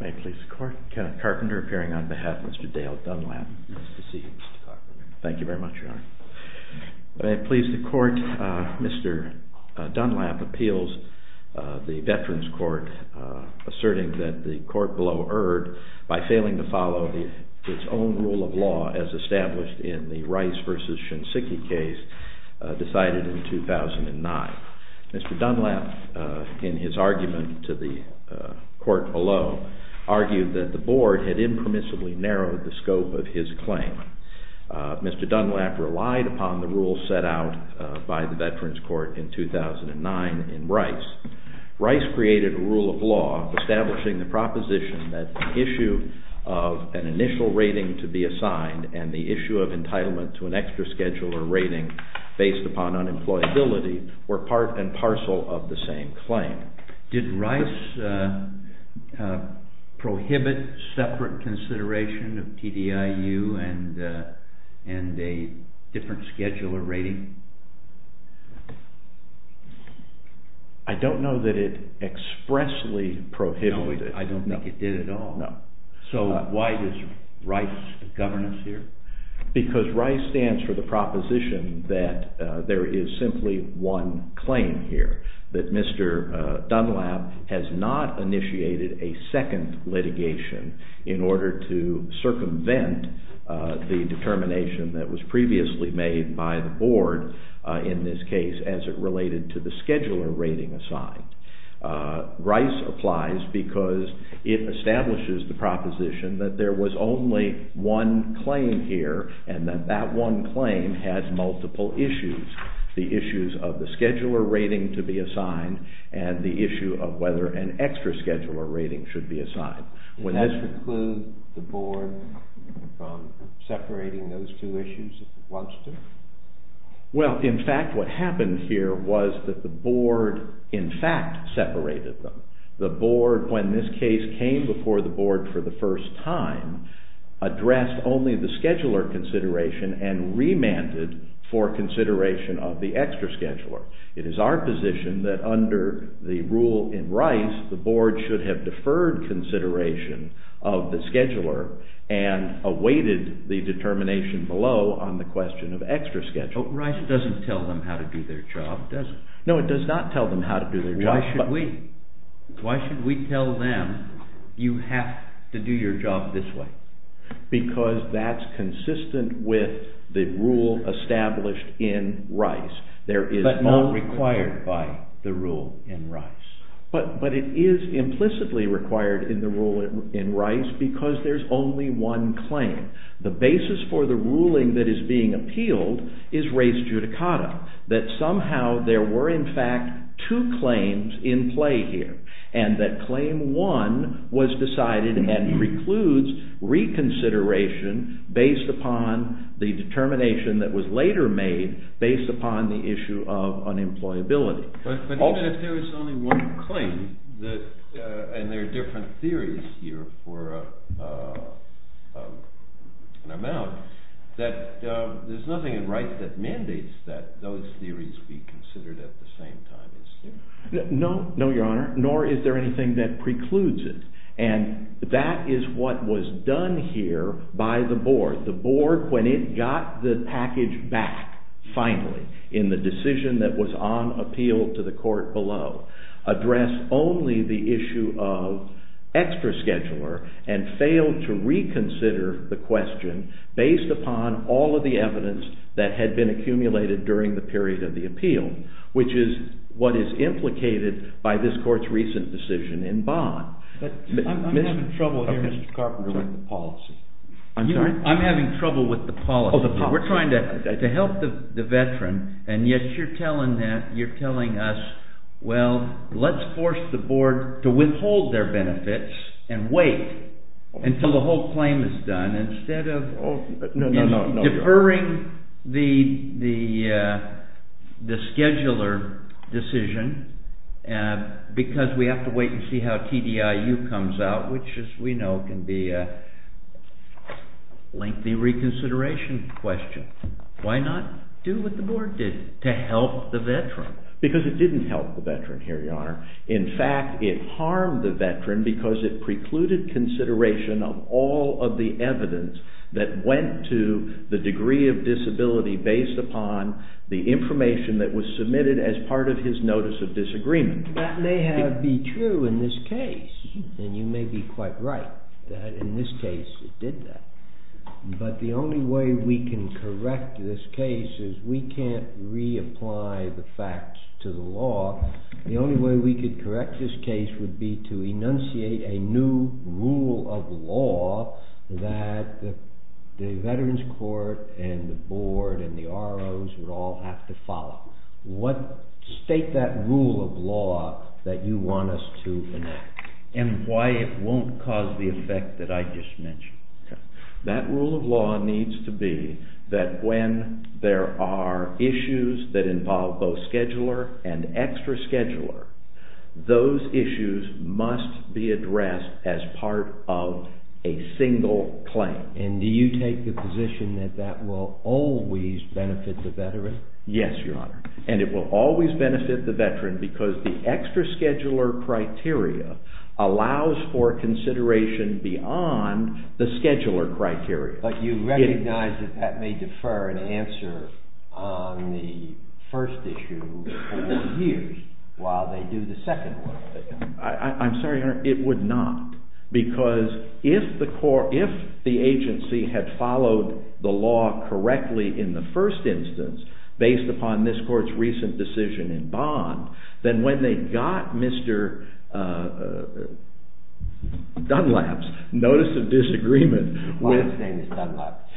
May it please the court, Kenneth Carpenter appearing on behalf of Mr. Dale Dunlap. Nice to see you, Mr. Carpenter. Thank you very much, Your Honor. May it please the court, Mr. Dunlap appeals the Veterans Court asserting that the court below erred by failing to follow its own rule of law as established in the Rice v. Shinseki case decided in 2009. Mr. Dunlap, in his argument to the court below, argued that the board had impermissibly narrowed the scope of his claim. Mr. Dunlap relied upon the rules set out by the Veterans Court in 2009 in Rice. Rice created a rule of law establishing the proposition that the issue of an initial rating to be assigned and the issue of entitlement to an extra schedule or rating based upon unemployability were part and parcel of the same claim. Did Rice prohibit separate consideration of TDIU and a different schedule or rating? I don't know that it expressly prohibited it. No, I don't think it did at all. No. So why does Rice govern us here? Because Rice stands for the proposition that there is simply one claim here, that Mr. Dunlap has not initiated a second litigation in order to circumvent the determination that was previously made by the board in this case as it related to the scheduler rating assigned. Rice applies because it establishes the proposition that there was only one claim here and that that one claim has multiple issues, the issues of the scheduler rating to be assigned and the issue of whether an extra schedule or rating should be assigned. Would that preclude the board from separating those two issues if it wants to? Well, in fact, what happened here was that the board, in fact, separated them. The board, when this case came before the board for the first time, addressed only the scheduler consideration and remanded for consideration of the extra scheduler. It is our position that under the rule in Rice, the board should have deferred consideration of the scheduler and awaited the determination below on the question of extra schedule. But Rice doesn't tell them how to do their job, does it? No, it does not tell them how to do their job. Why should we? Why should we tell them you have to do your job this way? Because that's consistent with the rule established in Rice. But not required by the rule in Rice. But it is implicitly required in the rule in Rice because there's only one claim. The basis for the ruling that is being appealed is race judicata, that somehow there were, in fact, two claims in play here, and that claim one was decided and precludes reconsideration based upon the determination that was later made based upon the issue of unemployability. But even if there is only one claim, and there are different theories here for an amount, that there's nothing in Rice that mandates that those theories be considered at the same time. No, your honor, nor is there anything that precludes it. And that is what was done here by the board. When it got the package back, finally, in the decision that was on appeal to the court below, addressed only the issue of extra scheduler and failed to reconsider the question based upon all of the evidence that had been accumulated during the period of the appeal, which is what is implicated by this court's recent decision in Bond. I'm having trouble here, Mr. Carpenter, with the policy. I'm sorry? I'm having trouble with the policy. Oh, the policy. We're trying to help the veteran, and yet you're telling us, well, let's force the board to withhold their benefits and wait until the whole claim is done, instead of deferring the scheduler decision because we have to wait and see how TDIU comes out, which, as we know, can be a lengthy reconsideration question. Why not do what the board did to help the veteran? Because it didn't help the veteran here, your honor. In fact, it harmed the veteran because it precluded consideration of all of the evidence that went to the degree of disability based upon the information that was submitted as part of his notice of disagreement. That may be true in this case, and you may be quite right that in this case it did that. But the only way we can correct this case is we can't reapply the facts to the law. The only way we could correct this case would be to enunciate a new rule of law that the Veterans Court and the board and the ROs would all have to follow. State that rule of law that you want us to enact. And why it won't cause the effect that I just mentioned. That rule of law needs to be that when there are issues that involve both scheduler and extra scheduler, those issues must be addressed as part of a single claim. And do you take the position that that will always benefit the veteran? Yes, your honor. And it will always benefit the veteran because the extra scheduler criteria allows for consideration beyond the scheduler criteria. But you recognize that that may defer an answer on the first issue for years while they do the second one. I'm sorry, your honor, it would not. Because if the agency had followed the law correctly in the first instance, based upon this court's recent decision in bond, then when they got Mr. Dunlap's notice of disagreement Why is his name Dunlap?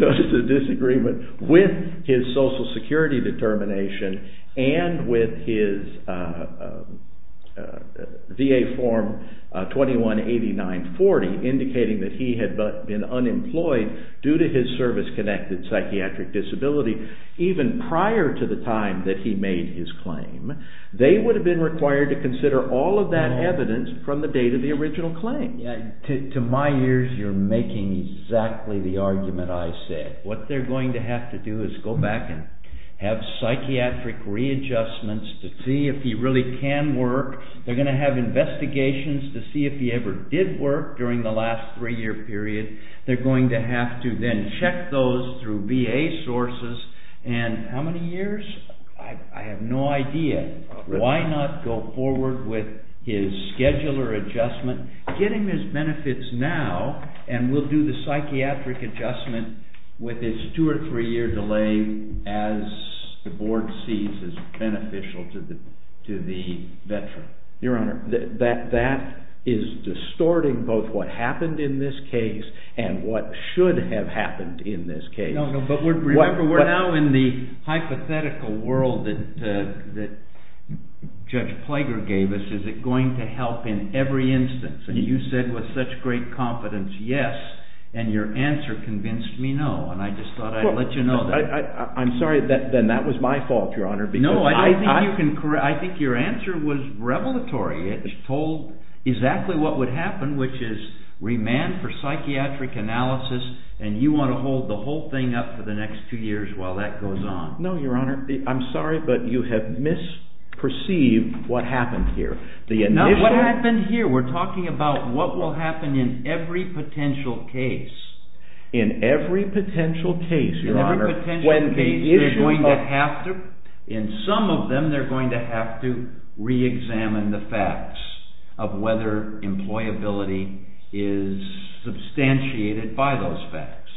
Notice of disagreement with his social security determination and with his VA form 21-8940 indicating that he had been unemployed due to his service-connected psychiatric disability even prior to the time that he made his claim, they would have been required to consider all of that evidence from the date of the original claim. To my ears, you're making exactly the argument I said. What they're going to have to do is go back and have psychiatric readjustments to see if he really can work. They're going to have investigations to see if he ever did work during the last three-year period. They're going to have to then check those through VA sources. And how many years? I have no idea. Why not go forward with his scheduler adjustment, get him his benefits now, and we'll do the psychiatric adjustment with his two or three-year delay as the board sees as beneficial to the veteran. Your Honor, that is distorting both what happened in this case and what should have happened in this case. No, no, but remember, we're now in the hypothetical world that Judge Plager gave us. Is it going to help in every instance? And you said with such great confidence, yes. And your answer convinced me, no. And I just thought I'd let you know that. I'm sorry, then that was my fault, Your Honor. No, I think your answer was revelatory. It told exactly what would happen, which is remand for psychiatric analysis, and you want to hold the whole thing up for the next two years while that goes on. No, Your Honor, I'm sorry, but you have misperceived what happened here. What happened here? We're talking about what will happen in every potential case. In every potential case, Your Honor. In every potential case, in some of them they're going to have to reexamine the facts of whether employability is substantiated by those facts.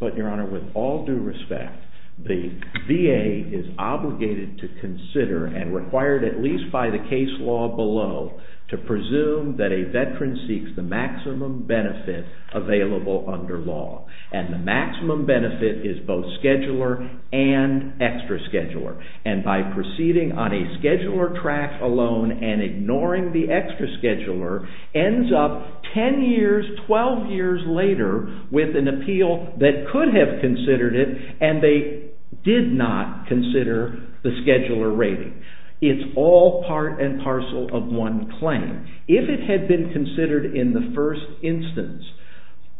But, Your Honor, with all due respect, the VA is obligated to consider and required at least by the case law below to presume that a veteran seeks the maximum benefit available under law. And the maximum benefit is both scheduler and extra scheduler. And by proceeding on a scheduler track alone and ignoring the extra scheduler ends up 10 years, 12 years later with an appeal that could have considered it and they did not consider the scheduler rating. It's all part and parcel of one claim. If it had been considered in the first instance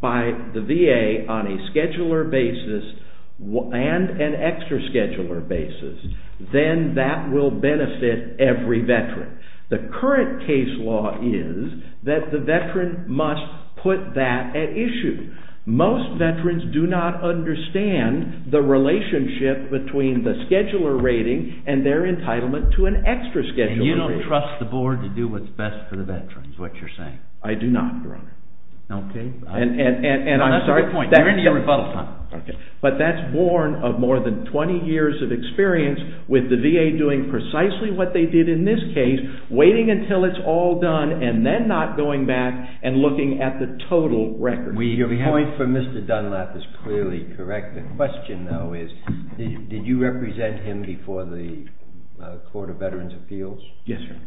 by the VA on a scheduler basis and an extra scheduler basis, then that will benefit every veteran. The current case law is that the veteran must put that at issue. Most veterans do not understand the relationship between the scheduler rating and their entitlement to an extra scheduler rating. And you don't trust the board to do what's best for the veterans, what you're saying? I do not, Your Honor. Okay. That's a good point. You're in your rebuttal time. But that's born of more than 20 years of experience with the VA doing precisely what they did in this case, waiting until it's all done and then not going back and looking at the total record. Your point for Mr. Dunlap is clearly correct. The question, though, is did you represent him before the Court of Veterans' Appeals? Yes, sir.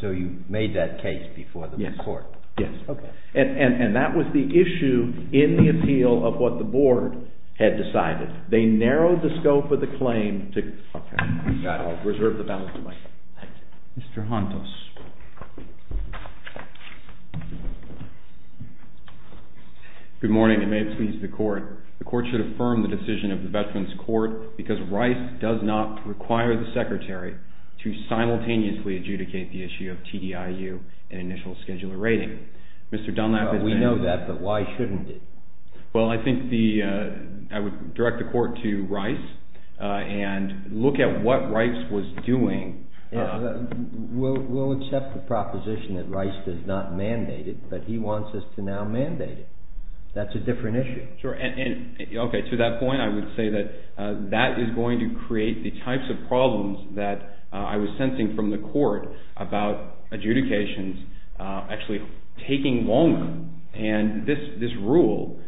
So you made that case before the court? Yes. Okay. And that was the issue in the appeal of what the board had decided. They narrowed the scope of the claim to... I'll reserve the balance of my time. Mr. Hontos. Good morning. It may please the Court. The Court should affirm the decision of the Veterans' Court because Rice does not require the Secretary to simultaneously adjudicate the issue of TDIU and initial scheduler rating. We know that, but why shouldn't it? Well, I think I would direct the Court to Rice and look at what Rice was doing. We'll accept the proposition that Rice did not mandate it, but he wants us to now mandate it. That's a different issue. Okay. To that point, I would say that that is going to create the types of problems that I was sensing from the Court about adjudications actually taking longer. And this rule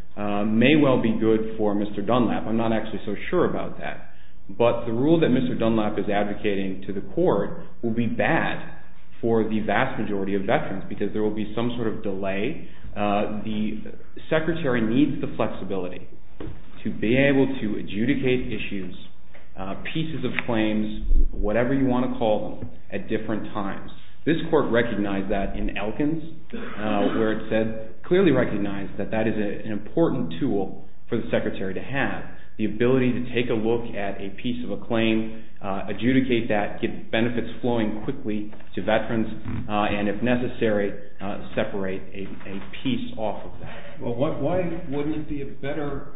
may well be good for Mr. Dunlap. I'm not actually so sure about that. But the rule that Mr. Dunlap is advocating to the Court will be bad for the vast majority of veterans because there will be some sort of delay. The Secretary needs the flexibility to be able to adjudicate issues, pieces of claims, whatever you want to call them, at different times. This Court recognized that in Elkins, where it said, clearly recognized that that is an important tool for the Secretary to have, the ability to take a look at a piece of a claim, adjudicate that, get benefits flowing quickly to veterans, and if necessary, separate a piece off of that. Well, why wouldn't it be a better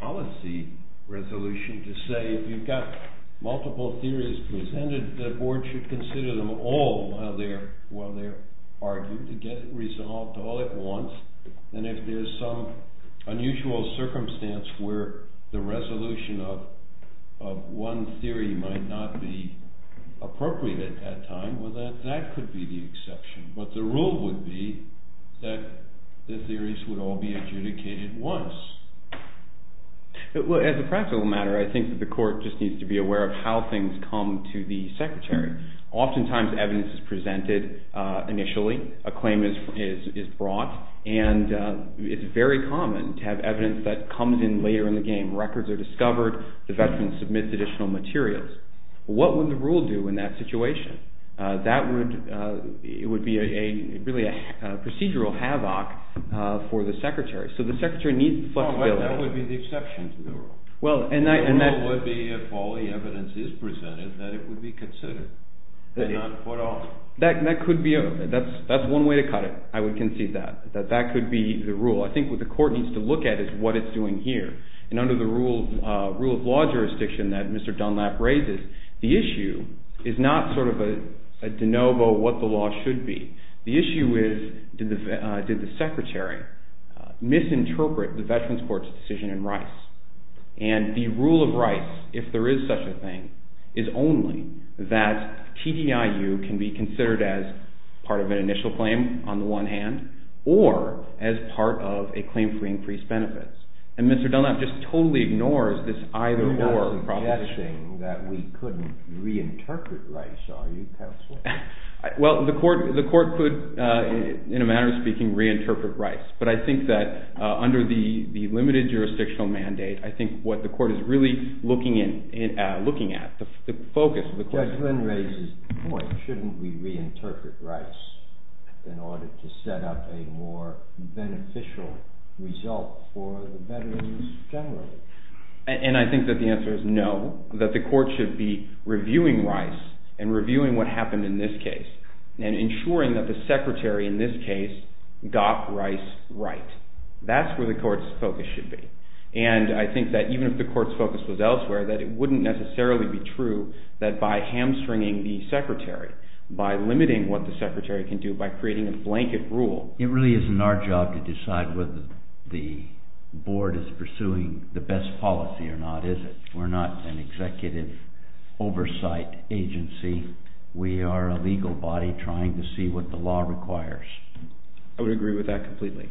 policy resolution to say, if you've got multiple theories presented, the Board should consider them all while they're argued, to get it resolved all at once, than if there's some unusual circumstance where the resolution of one theory might not be appropriate at that time, well, that could be the exception. But the rule would be that the theories would all be adjudicated once. As a practical matter, I think that the Court just needs to be aware of how things come to the Secretary. Oftentimes, evidence is presented initially, a claim is brought, and it's very common to have evidence that comes in later in the game. Records are discovered, the veteran submits additional materials. What would the rule do in that situation? That would be really a procedural havoc for the Secretary. So the Secretary needs flexibility. That would be the exception to the rule. The rule would be, if all the evidence is presented, that it would be considered, and not put off. That's one way to cut it. I would concede that. That that could be the rule. I think what the Court needs to look at is what it's doing here. And under the rule of law jurisdiction that Mr. Dunlap raises, the issue is not sort of a de novo what the law should be. The issue is, did the Secretary misinterpret the Veterans Court's decision in Rice? And the rule of Rice, if there is such a thing, is only that TDIU can be considered as part of an initial claim on the one hand, or as part of a claim for increased benefits. And Mr. Dunlap just totally ignores this either-or proposition. You're not suggesting that we couldn't reinterpret Rice, are you, Counsel? Well, the Court could, in a manner of speaking, reinterpret Rice. But I think that under the limited jurisdictional mandate, I think what the Court is really looking at, the focus of the Court- Judge Lynn raises the point, shouldn't we reinterpret Rice in order to set up a more beneficial result for the veterans generally? And I think that the answer is no, that the Court should be reviewing Rice and reviewing what happened in this case, and ensuring that the Secretary in this case got Rice right. That's where the Court's focus should be. And I think that even if the Court's focus was elsewhere, that it wouldn't necessarily be true that by hamstringing the Secretary, by limiting what the Secretary can do, by creating a blanket rule- It really isn't our job to decide whether the Board is pursuing the best policy or not, is it? We're not an executive oversight agency. We are a legal body trying to see what the law requires. I would agree with that completely.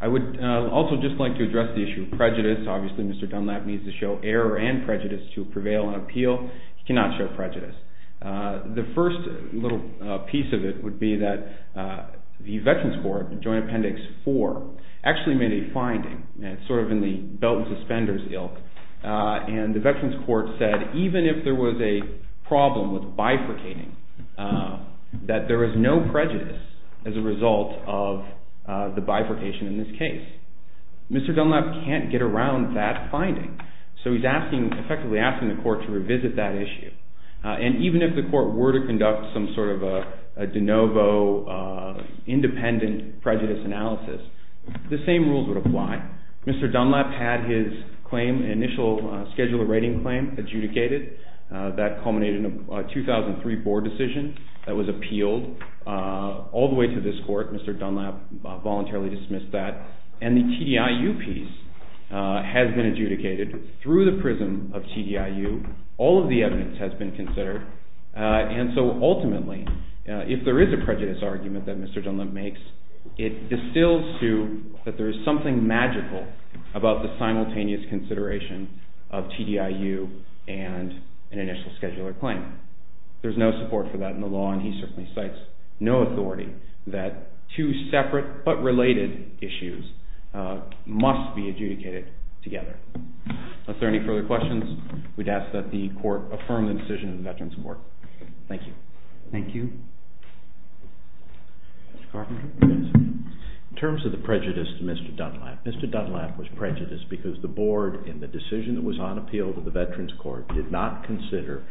I would also just like to address the issue of prejudice. Obviously, Mr. Dunlap needs to show error and prejudice to prevail in an appeal. He cannot show prejudice. The first little piece of it would be that the Veterans Court, Joint Appendix 4, actually made a finding, sort of in the belt and suspenders ilk, and the Veterans Court said even if there was a problem with bifurcating, that there is no prejudice as a result of the bifurcation in this case. Mr. Dunlap can't get around that finding, so he's effectively asking the Court to revisit that issue. And even if the Court were to conduct some sort of a de novo, independent prejudice analysis, the same rules would apply. Mr. Dunlap had his claim, initial scheduler rating claim, adjudicated. That culminated in a 2003 board decision that was appealed all the way to this Court. Mr. Dunlap voluntarily dismissed that. And the TDIU piece has been adjudicated through the prism of TDIU. All of the evidence has been considered. And so ultimately, if there is a prejudice argument that Mr. Dunlap makes, it distills to that there is something magical about the simultaneous consideration of TDIU and an initial scheduler claim. There's no support for that in the law, and he certainly cites no authority that two separate but related issues must be adjudicated together. If there are any further questions, we'd ask that the Court affirm the decision of the Veterans Court. Thank you. Thank you. Mr. Carpenter. In terms of the prejudice to Mr. Dunlap, Mr. Dunlap was prejudiced because the board in the decision that was on appeal to the Veterans Court did not consider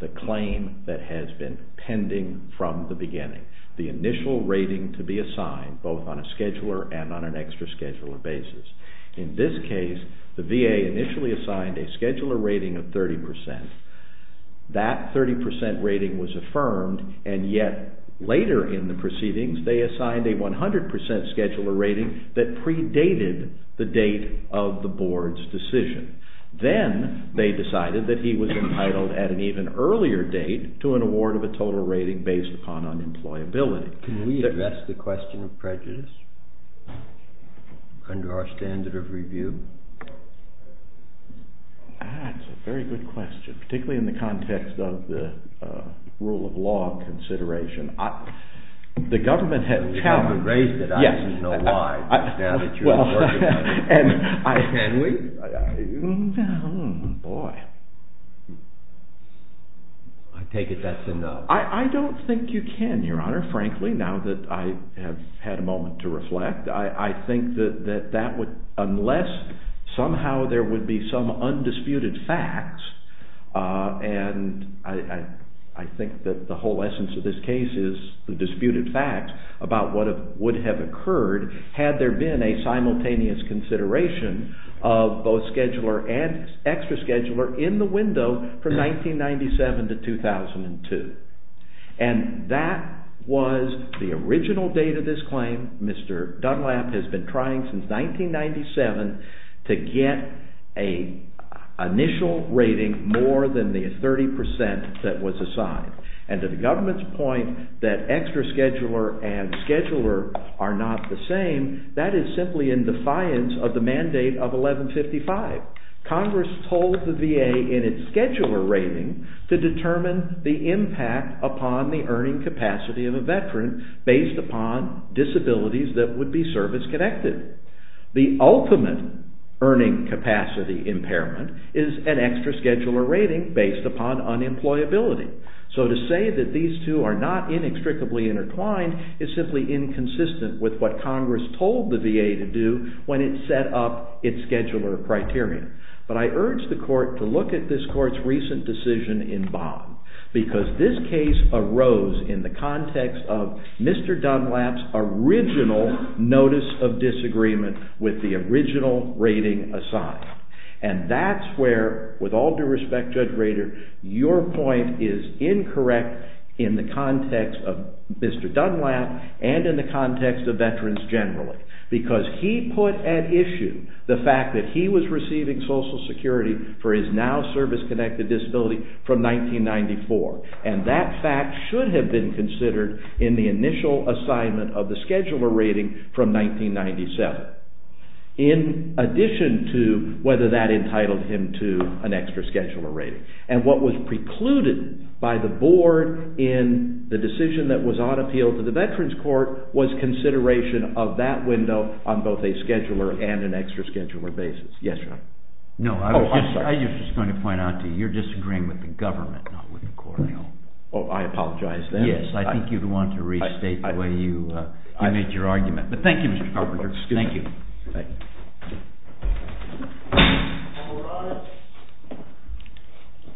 the claim that has been pending from the beginning, the initial rating to be assigned both on a scheduler and on an extra scheduler basis. In this case, the VA initially assigned a scheduler rating of 30%. That 30% rating was affirmed, and yet later in the proceedings, they assigned a 100% scheduler rating that predated the date of the board's decision. Then they decided that he was entitled at an even earlier date to an award of a total rating based upon unemployability. Can we address the question of prejudice under our standard of review? That's a very good question, particularly in the context of the rule of law consideration. We haven't raised it. I just don't know why. Can we? Boy. I take it that's enough. I don't think you can, Your Honor, frankly, now that I have had a moment to reflect. I think that unless somehow there would be some undisputed facts, and I think that the whole essence of this case is the disputed facts about what would have occurred had there been a simultaneous consideration of both scheduler and extra scheduler in the window from 1997 to 2002. And that was the original date of this claim. Mr. Dunlap has been trying since 1997 to get an initial rating more than the 30% that was assigned. And to the government's point that extra scheduler and scheduler are not the same, that is simply in defiance of the mandate of 1155. Congress told the VA in its scheduler rating to determine the impact upon the earning capacity of a veteran based upon disabilities that would be service-connected. The ultimate earning capacity impairment is an extra scheduler rating based upon unemployability. So to say that these two are not inextricably intertwined is simply inconsistent with what Congress told the VA to do when it set up its scheduler criteria. But I urge the Court to look at this Court's recent decision in Bond because this case arose in the context of Mr. Dunlap's original notice of disagreement with the original rating assigned. And that's where, with all due respect, Judge Rader, your point is incorrect in the context of Mr. Dunlap and in the context of veterans generally because he put at issue the fact that he was receiving Social Security for his now service-connected disability from 1994. And that fact should have been considered in the initial assignment of the scheduler rating from 1997 in addition to whether that entitled him to an extra scheduler rating. And what was precluded by the Board in the decision that was on appeal to the Veterans Court was consideration of that window on both a scheduler and an extra scheduler basis. Yes, sir. No, I was just going to point out to you, you're disagreeing with the government, not with the Court. Oh, I apologize then. Yes, I think you'd want to restate the way you made your argument. But thank you, Mr. Carpenter. Thank you.